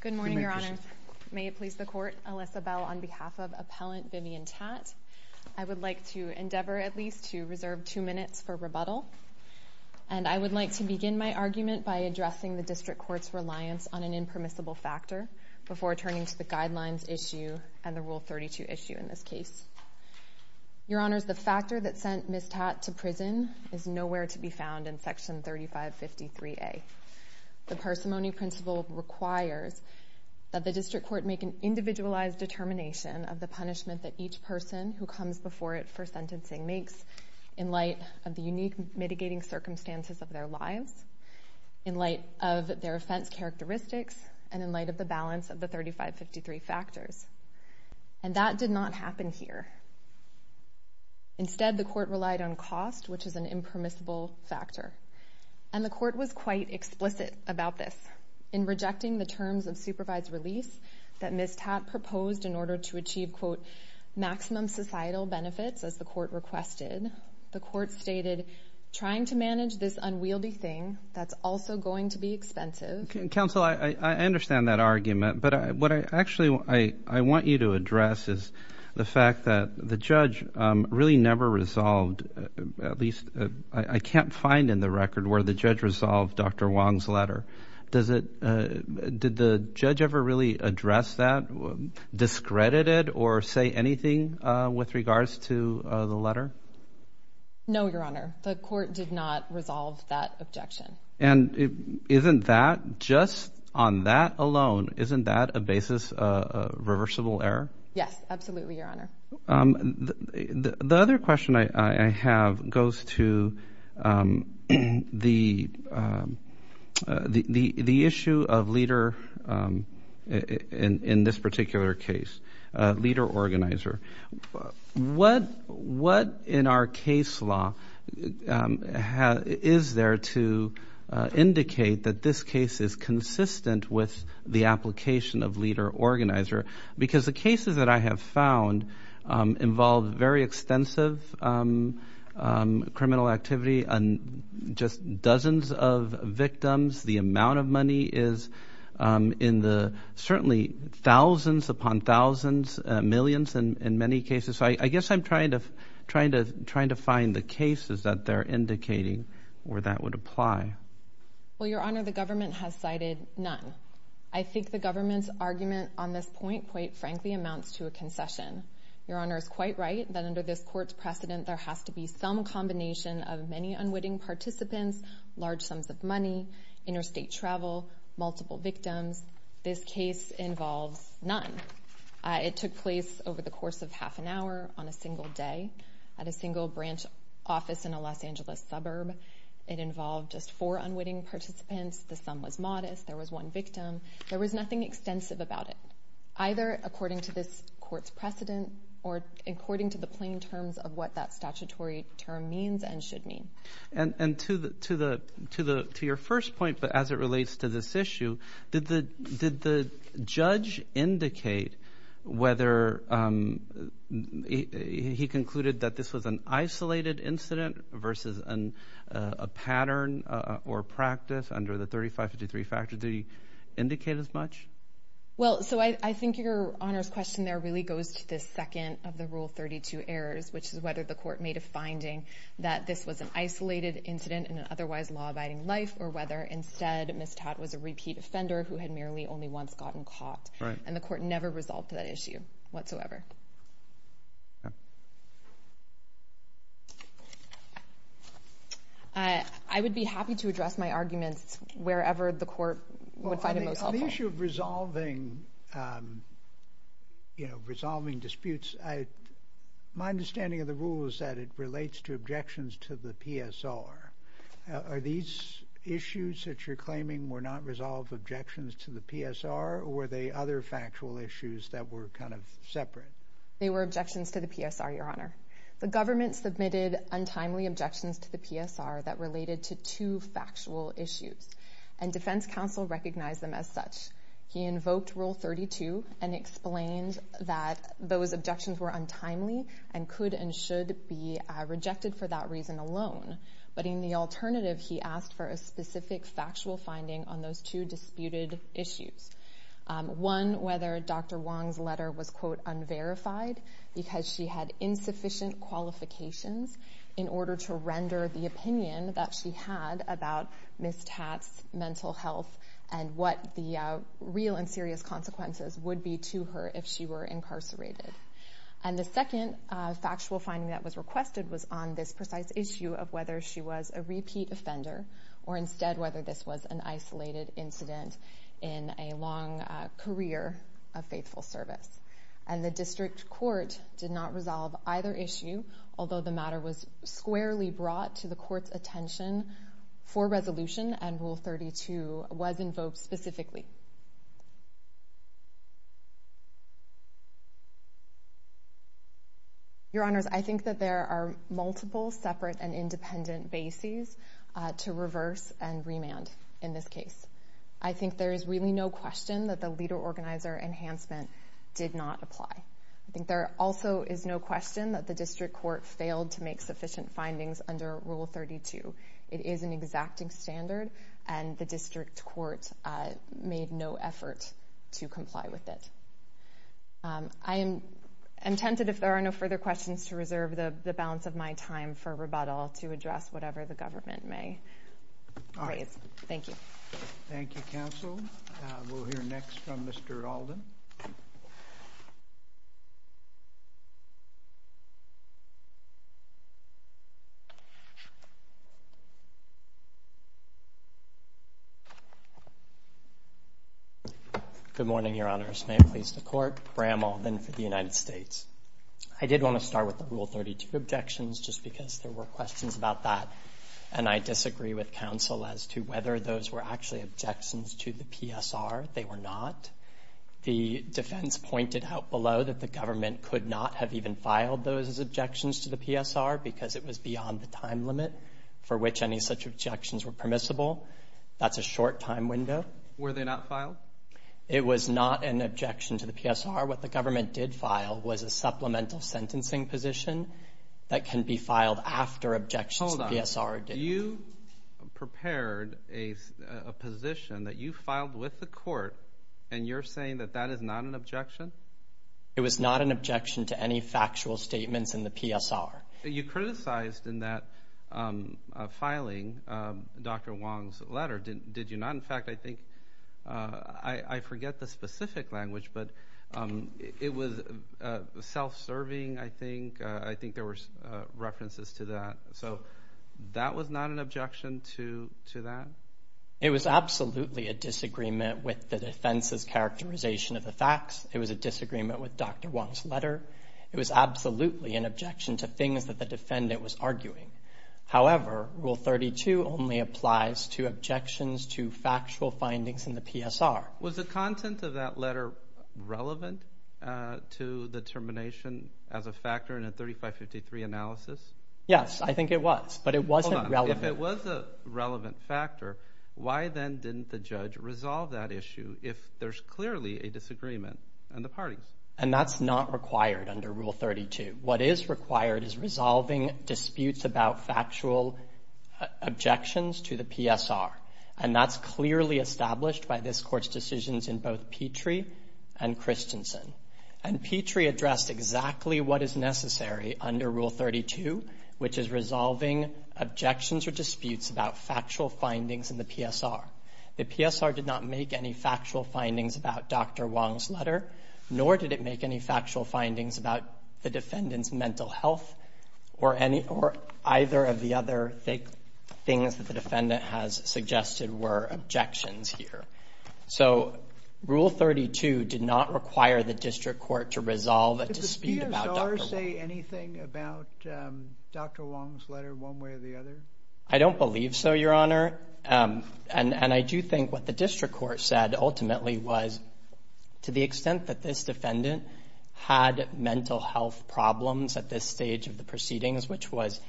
Good morning, Your Honor. May it please the court, Alyssa Bell on behalf of Appellant Vivian Tat, I would like to endeavor at least to reserve two minutes for rebuttal, and I would like to begin my argument by addressing the District Court's reliance on an impermissible factor before turning to the Guidelines issue and the Rule 32 issue in this case. Your Honors, the factor that sent Ms. Tat to prison is nowhere to be found in Section 3553A. The parsimony principle requires that the District Court make an individualized determination of the punishment that each person who comes before it for sentencing makes in light of the unique mitigating circumstances of their lives, in light of their offense characteristics, and in light of the balance of the 3553 factors. And that did not happen here. Instead, the court relied on cost, which is an impermissible factor. And the court was quite explicit about this. In rejecting the terms of supervise release that Ms. Tat proposed in order to achieve, quote, maximum societal benefits, as the court requested, the court stated trying to manage this unwieldy thing that's also going to be expensive. Counsel, I understand that argument, but what I actually want you to address is the fact that the judge really never resolved, at least I can't find in the record where the judge resolved Dr. Wong's letter. Did the judge ever really address that, discredited it, or say anything with regards to the letter? No, Your Honor. The court did not resolve that objection. And isn't that, just on that alone, isn't that a basis, a reversible error? Yes, absolutely, Your Honor. The other question I have goes to the issue of leader, in this particular case, leader-organizer. What in our case law is there to indicate that this case is consistent with the application of leader-organizer? Because the cases that I have found involve very extensive criminal activity and just dozens of victims. The amount of money is in the, certainly thousands upon thousands, millions in many cases. So I guess I'm trying to find the cases that they're indicating where that would apply. Well, Your Honor, the government has cited none. I think the government's argument on this point, quite frankly, amounts to a concession. Your Honor is quite right that under this court's precedent there has to be some combination of many unwitting participants, large sums of money, interstate travel, multiple victims. This case involves none. It took place over the course of half an hour on a single day at a single branch office in a Los Angeles suburb. It involved just four unwitting participants. The sum was modest. There was one victim. There was nothing extensive about it, either according to this court's precedent or according to the plain terms of what that statutory term means and should mean. And to your first point, but as it relates to this issue, did the judge indicate whether he concluded that this was an isolated incident versus a pattern or practice under the 3553 factor? Did he indicate as much? Well, so I think Your Honor's question there really goes to the second of the Rule 32 errors, which is whether the court made a finding that this was an isolated incident in an otherwise law-abiding life or whether instead Ms. Tatt was a repeat offender who had merely only once gotten caught. And the court never resolved that issue whatsoever. I would be happy to address my arguments wherever the court would find it most helpful. On the issue of resolving, you know, resolving disputes, my understanding of the Rule is that it relates to objections to the PSR. Are these issues that you're claiming were not resolved objections to the PSR, or were they other factual issues that were kind of separate? They were objections to the PSR, Your Honor. The government submitted untimely objections to the PSR that related to two factual issues, and defense counsel recognized them as such. He invoked Rule 32 and explained that those objections were untimely and could and should be rejected for that reason alone. But in the alternative, he asked for a specific factual finding on those two disputed issues. One, whether Dr. Wong's letter was, quote, unverified because she had insufficient qualifications in order to render the opinion that she had about Ms. Tatt's mental health and what the real and serious consequences would be to her if she were incarcerated. And the second factual finding that was requested was on this precise issue of whether she was a repeat offender or instead whether this was an isolated incident in a long career of faithful service. And the district court did not resolve either issue, although the matter was squarely brought to the court's attention for resolution and Rule 32 was invoked specifically. Your Honors, I think that there are multiple separate and independent bases to reverse and remand in this case. I think there is really no question that the leader organizer enhancement did not apply. I think there also is no question that the district court failed to make sufficient findings under Rule 32. It is an exacting standard and the made no effort to comply with it. I am tempted, if there are no further questions, to reserve the balance of my time for rebuttal to address whatever the government may raise. Thank you. Thank you, counsel. We'll hear next from Mr. Alden. Good morning, Your Honors. May it please the court. Bram Alden for the United States. I did want to start with the Rule 32 objections just because there were questions about that and I disagree with counsel as to whether those were actually objections to the PSR. They were not. The defense pointed out below that the government could not have even filed those objections to the PSR because it was beyond the time limit for which any such objections were permissible. That's a short time window. Were they not filed? It was not an objection to the PSR. What the government did file was a supplemental sentencing position that can be filed after objections to the PSR did. Hold on. You prepared a position that you filed with the court and you're saying that is not an objection? It was not an objection to any factual statements in the PSR. You criticized in that filing, Dr. Wong's letter, did you not? In fact, I think I forget the specific language, but it was self-serving, I think. I think there were references to that. So that was not an objection to that? It was absolutely a disagreement with the defense's characterization of the facts. It was a disagreement with Dr. Wong's letter. It was absolutely an objection to things that the defendant was arguing. However, Rule 32 only applies to objections to factual findings in the PSR. Was the content of that letter relevant to the termination as a factor in a 3553 analysis? Yes, I think it was, but it wasn't relevant. If it was a relevant factor, why then didn't the judge resolve that issue if there's clearly a disagreement in the parties? And that's not required under Rule 32. What is required is resolving disputes about factual objections to the PSR. And that's clearly established by this court's decisions in both Petrie and Christensen. And Petrie addressed exactly what is necessary under Rule 32, which is resolving objections or disputes about factual findings in the PSR. The PSR did not make any factual findings about Dr. Wong's letter, nor did it make any factual findings about the defendant's mental health or any or either of the other things that the defendant has suggested were objections here. So Rule 32 did not require the district court to resolve a dispute about Dr. Wong's letter. Did the PSR say anything about Dr. Wong's letter one way or the other? I don't believe so, Your Honor. And I do think what the district court said ultimately was to the extent that this defendant had mental health problems at this stage of the proceedings, which was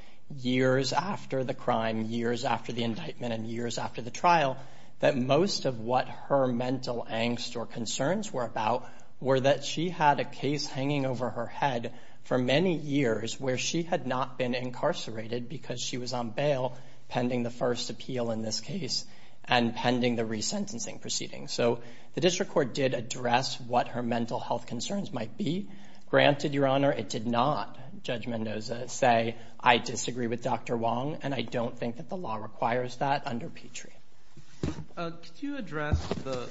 years after the crime, years after the indictment, and years after the trial, that most of what her mental angst or concerns were about were that she had a case hanging over her head for many years where she had not been incarcerated because she was on bail. Pending the first appeal in this case and pending the resentencing proceedings. So the district court did address what her mental health concerns might be. Granted, Your Honor, it did not, Judge Mendoza, say, I disagree with Dr. Wong, and I don't think that the law requires that under Petrie. Could you address the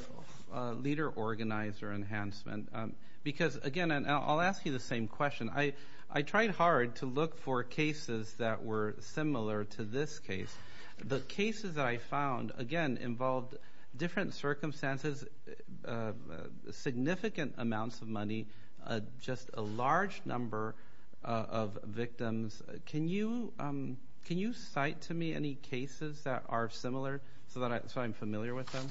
leader organizer enhancement? Because, again, and I'll ask you the same question. I tried hard to look for cases that were similar to this case. The cases that I found, again, involved different circumstances, significant amounts of money, just a large number of victims. Can you cite to me any cases that are similar so that I'm familiar with them?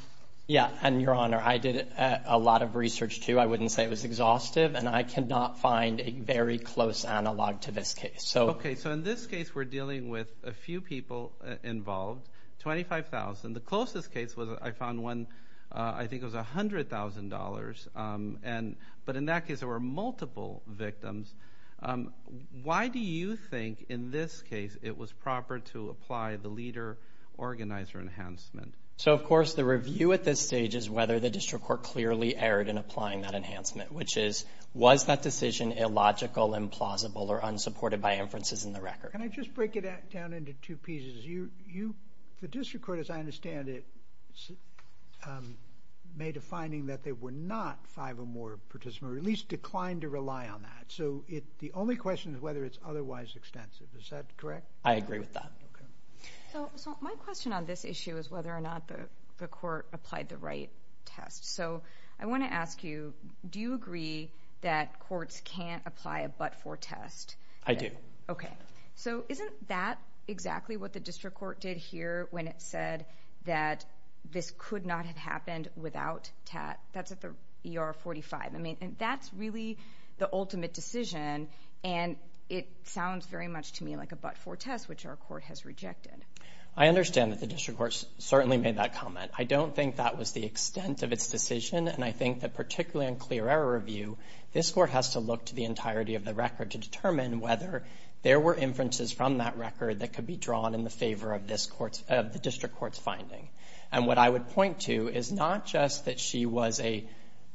Yeah. And, Your Honor, I did a lot of research, too. I wouldn't say it was exhaustive, and I cannot find a very close analog to this case. Okay. So in this case, we're dealing with a few people involved, 25,000. The closest case was, I found one, I think it was $100,000. But in that case, there were multiple victims. Why do you think, in this case, it was proper to apply the leader organizer enhancement? So, of course, the review at this stage is whether the district court clearly erred in applying that enhancement, which is, was that decision illogical, implausible, or unsupported by inferences in the record? Can I just break it down into two pieces? The district court, as I understand it, made a finding that there were not five or more participants, or at least declined to rely on that. So the only question is whether it's otherwise extensive. Is that correct? I agree with that. So my question on this issue is whether or not the court applied the right test. So I want to ask you, do you agree that courts can't apply a but-for test? I do. Okay. So isn't that exactly what the district court did here when it said that this could not have happened without TAT? That's at the ER-45. I mean, that's really the ultimate decision, and it sounds very much to me like a but-for test, which our court has rejected. I understand that the district court certainly made that comment. I don't think that was the extent of its decision, and I think that particularly in clear error review, this court has to look to the entirety of the record to determine whether there were inferences from that record that could be drawn in the favor of the district court's finding. And what I would point to is not just that she was a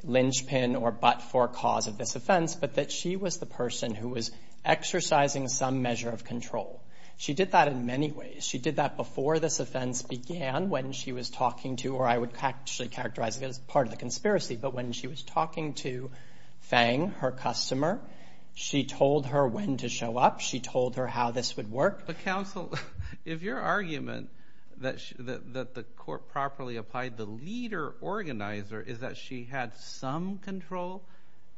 linchpin or but-for cause of this offense, but that she was the person who was exercising some measure of control. She did that in many ways. She did that before this offense began when she was talking to, or I would actually characterize it as part of the conspiracy, but when she was talking to Fang, her customer, she told her when to show up. She told her how this would work. But counsel, if your argument that the court properly applied the leader organizer is that she had some control,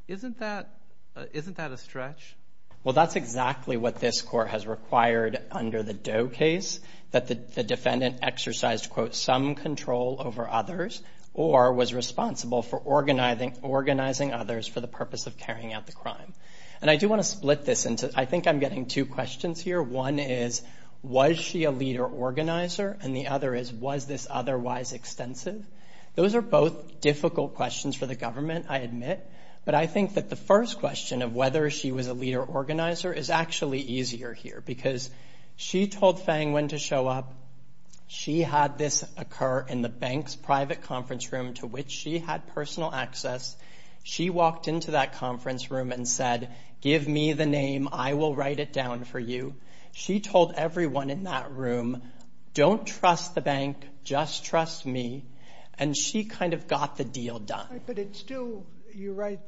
isn't that a stretch? Well, that's exactly what this court has required under the Doe case, that the defendant exercised, quote, some control over others or was responsible for organizing others for the purpose of carrying out the crime. And I do want to split this into, I think I'm getting two questions here. One is, was she a leader organizer? And the other is, was this otherwise extensive? Those are both difficult questions for the government, I admit, but I think that the first question of whether she was a leader organizer is actually easier here because she told Fang when to show up. She had this occur in the bank's private conference room to which she had personal access. She walked into that conference room and said, give me the name, I will write it down for you. She told everyone in that room, don't trust the bank, just trust me. And she kind of got the deal done. But it's still, you're right,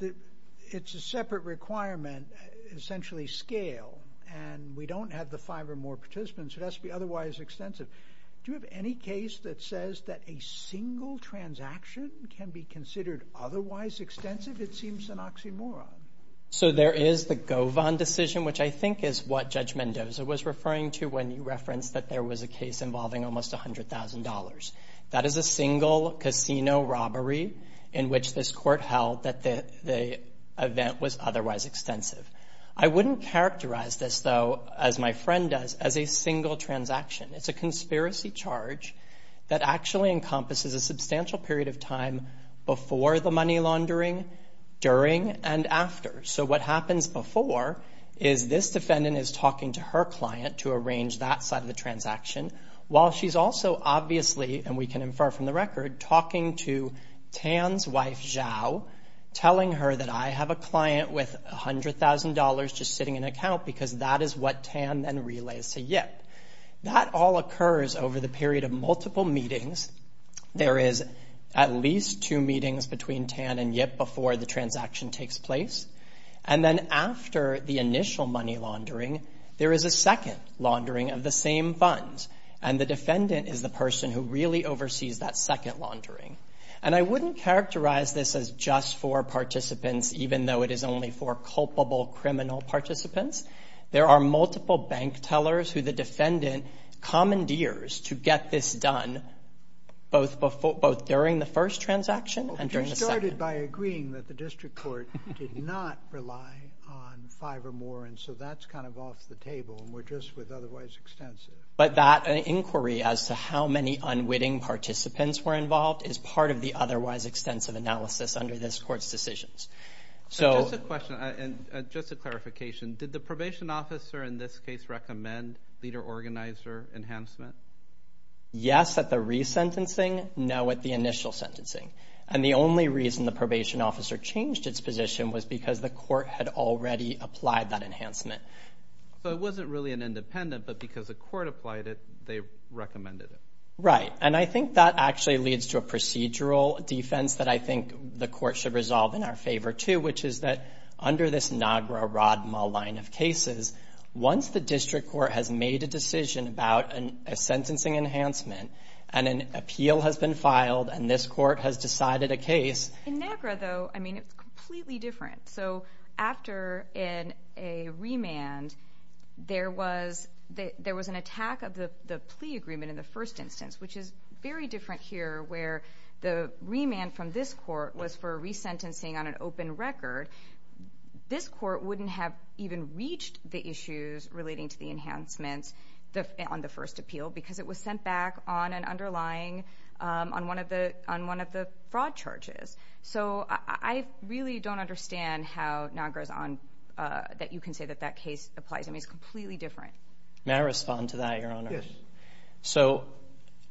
it's a separate requirement, essentially scale, and we don't have the five or more participants, so it has to be otherwise extensive. Do you have any case that says that a single transaction can be considered otherwise extensive? It seems an oxymoron. So there is the Govan decision, which I think is what Judge Mendoza was referring to when you referenced that there was a case involving almost $100,000. That is a single casino robbery in which this court held that the event was otherwise extensive. I wouldn't characterize this, though, as my friend does, as a single transaction. It's a conspiracy charge that actually encompasses a substantial period of time before the money laundering, during, and after. So what happens before is this defendant is talking to her client to arrange that side of the transaction, while she's also obviously, and we can infer from the record, talking to Tan's wife, Zhao, telling her that I have a client with $100,000 just sitting in an account because that is what Tan then relays to Yip. That all occurs over the period of multiple meetings. There is at least two meetings between Tan and Yip before the transaction takes place, and then after the initial money laundering, there is a second laundering of the same funds, and the defendant is the person who really oversees that second laundering. And I wouldn't characterize this as just for participants, even though it is only for culpable criminal participants. There are multiple bank tellers who the defendant commandeers to get this done, both during the first transaction and during the second. But you started by agreeing that the district court did not rely on five or more, and so that's kind of off the table, and we're just with otherwise extensive. But that inquiry as to how many unwitting participants were involved is part of the otherwise extensive analysis under this court's decisions. Just a question, and just a clarification. Did the probation officer in this case recommend leader-organizer enhancement? Yes, at the resentencing. No, at the initial sentencing. And the only reason the probation officer changed its position was because the court had already applied that enhancement. So it wasn't really an independent, but because the court applied it, they recommended it. Right, and I think that actually leads to a procedural defense that I think the court should resolve in our favor, too, which is that under this NAGRA, RODMA line of cases, once the district court has made a decision about a sentencing enhancement, and an appeal has been filed, and this court has decided a case— and there was an attack of the plea agreement in the first instance, which is very different here, where the remand from this court was for a resentencing on an open record. This court wouldn't have even reached the issues relating to the enhancements on the first appeal because it was sent back on an underlying—on one of the fraud charges. So I really don't understand how NAGRA is on—that you can say that that case applies. I mean, it's completely different. May I respond to that, Your Honor? Yes. So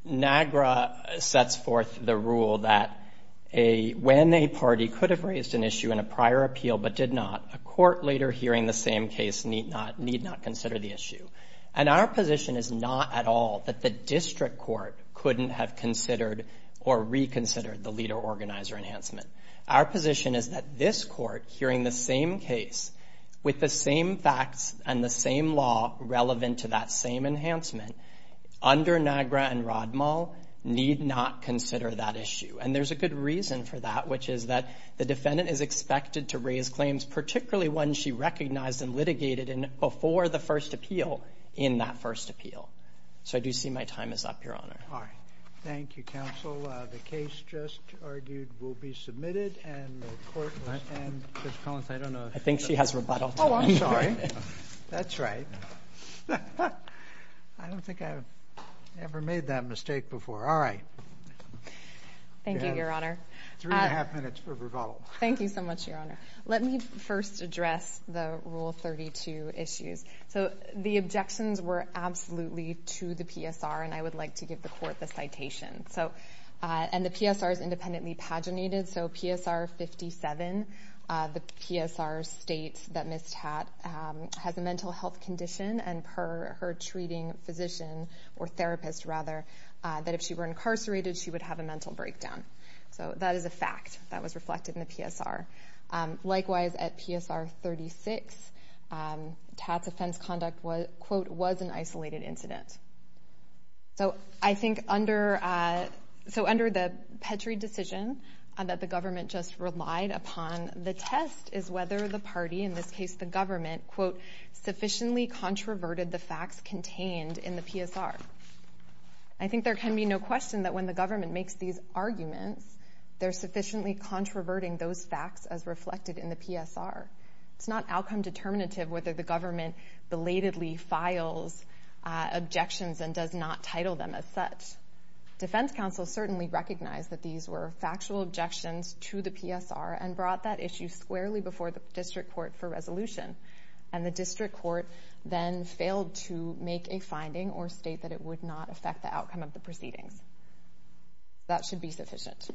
NAGRA sets forth the rule that when a party could have raised an issue in a prior appeal but did not, a court later hearing the same case need not consider the issue. And our position is not at all that the district court couldn't have considered or reconsidered the leader-organizer enhancement. Our position is that this court, hearing the same case with the same facts and the same law relevant to that same enhancement, under NAGRA and RODMA, need not consider that issue. And there's a good reason for that, which is that the defendant is expected to raise claims, particularly ones she recognized and litigated in—before the first appeal, in that first appeal. So I do see my time is up, Your Honor. All right. Thank you, counsel. The case just argued will be submitted, and the court— And, Judge Collins, I don't know if— I think she has rebuttal. Oh, I'm sorry. That's right. I don't think I've ever made that mistake before. All right. Thank you, Your Honor. Three and a half minutes for rebuttal. Thank you so much, Your Honor. Let me first address the Rule 32 issues. So the objections were absolutely to the PSR, and I would like to give the court the citation. So—and the PSR is independently paginated, so PSR 57, the PSR states that Ms. Tatt has a mental health condition, and per her treating physician—or therapist, rather—that if she were incarcerated, she would have a mental breakdown. So that is a fact that was reflected in the PSR. Likewise, at PSR 36, Tatt's offense conduct, quote, was an isolated incident. So I think under—so under the Petri decision that the government just relied upon, the test is whether the party, in this case the government, quote, sufficiently controverted the facts contained in the PSR. I think there can be no question that when the government makes these arguments, they're sufficiently controverting those facts as reflected in the PSR. It's not outcome determinative whether the government belatedly files objections and does not title them as such. Defense counsel certainly recognized that these were factual objections to the PSR and brought that issue squarely before the district court for resolution. And the district court then failed to make a finding or state that it would not affect the outcome of the proceedings. That should be sufficient.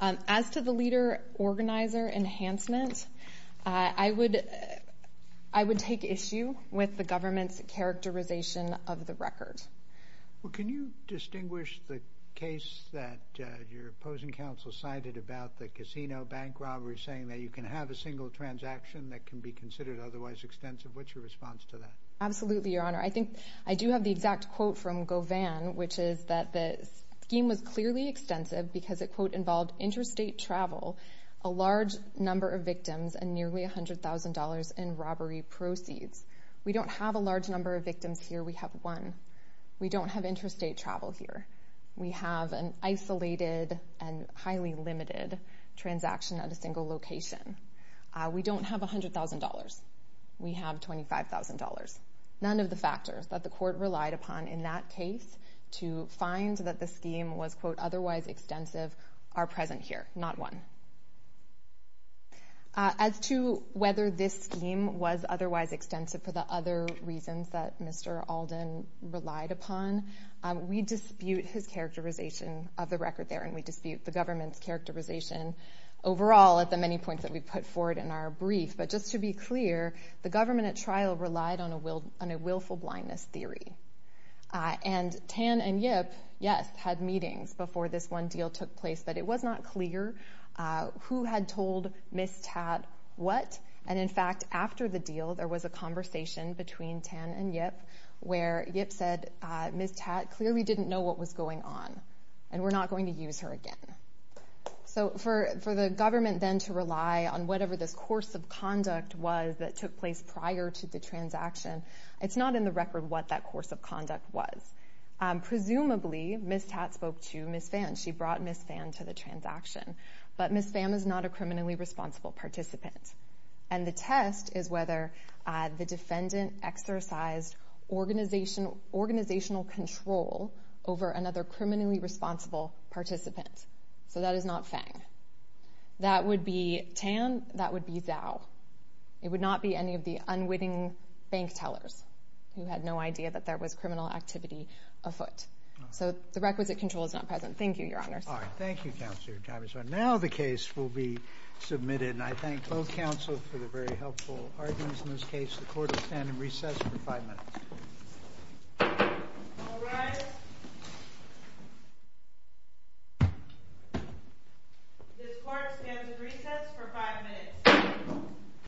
As to the leader-organizer enhancement, I would take issue with the government's characterization of the record. Well, can you distinguish the case that your opposing counsel cited about the casino bank robbery, saying that you can have a single transaction that can be considered otherwise extensive? What's your response to that? Absolutely, Your Honor. I think I do have the exact quote from Govan, which is that the scheme was clearly extensive because it, quote, involved interstate travel, a large number of victims, and nearly $100,000 in robbery proceeds. We don't have a large number of victims here. We have one. We don't have interstate travel here. We have an isolated and highly limited transaction at a single location. We don't have $100,000. We have $25,000. None of the factors that the court relied upon in that case to find that the scheme was, quote, otherwise extensive are present here, not one. As to whether this scheme was otherwise extensive for the other reasons that Mr. Alden relied upon, we dispute his characterization of the record there, and we dispute the government's characterization overall at the many points that we put forward in our brief. But just to be clear, the government at trial relied on a willful blindness theory. And Tan and Yip, yes, had meetings before this one deal took place, but it was not clear who had told Ms. Tatt what. And, in fact, after the deal there was a conversation between Tan and Yip where Yip said, Ms. Tatt clearly didn't know what was going on and we're not going to use her again. So for the government then to rely on whatever this course of conduct was that took place prior to the transaction, it's not in the record what that course of conduct was. Presumably, Ms. Tatt spoke to Ms. Phan. She brought Ms. Phan to the transaction. But Ms. Phan is not a criminally responsible participant. And the test is whether the defendant exercised organizational control over another criminally responsible participant. So that is not Phan. That would be Tan. That would be Thao. It would not be any of the unwitting bank tellers who had no idea that there was criminal activity afoot. So the requisite control is not present. Thank you, Your Honor. All right. Thank you, Counselor Tavis. Now the case will be submitted. And I thank both counsel for the very helpful arguments in this case. The court will stand in recess for five minutes. All rise. This court stands in recess for five minutes.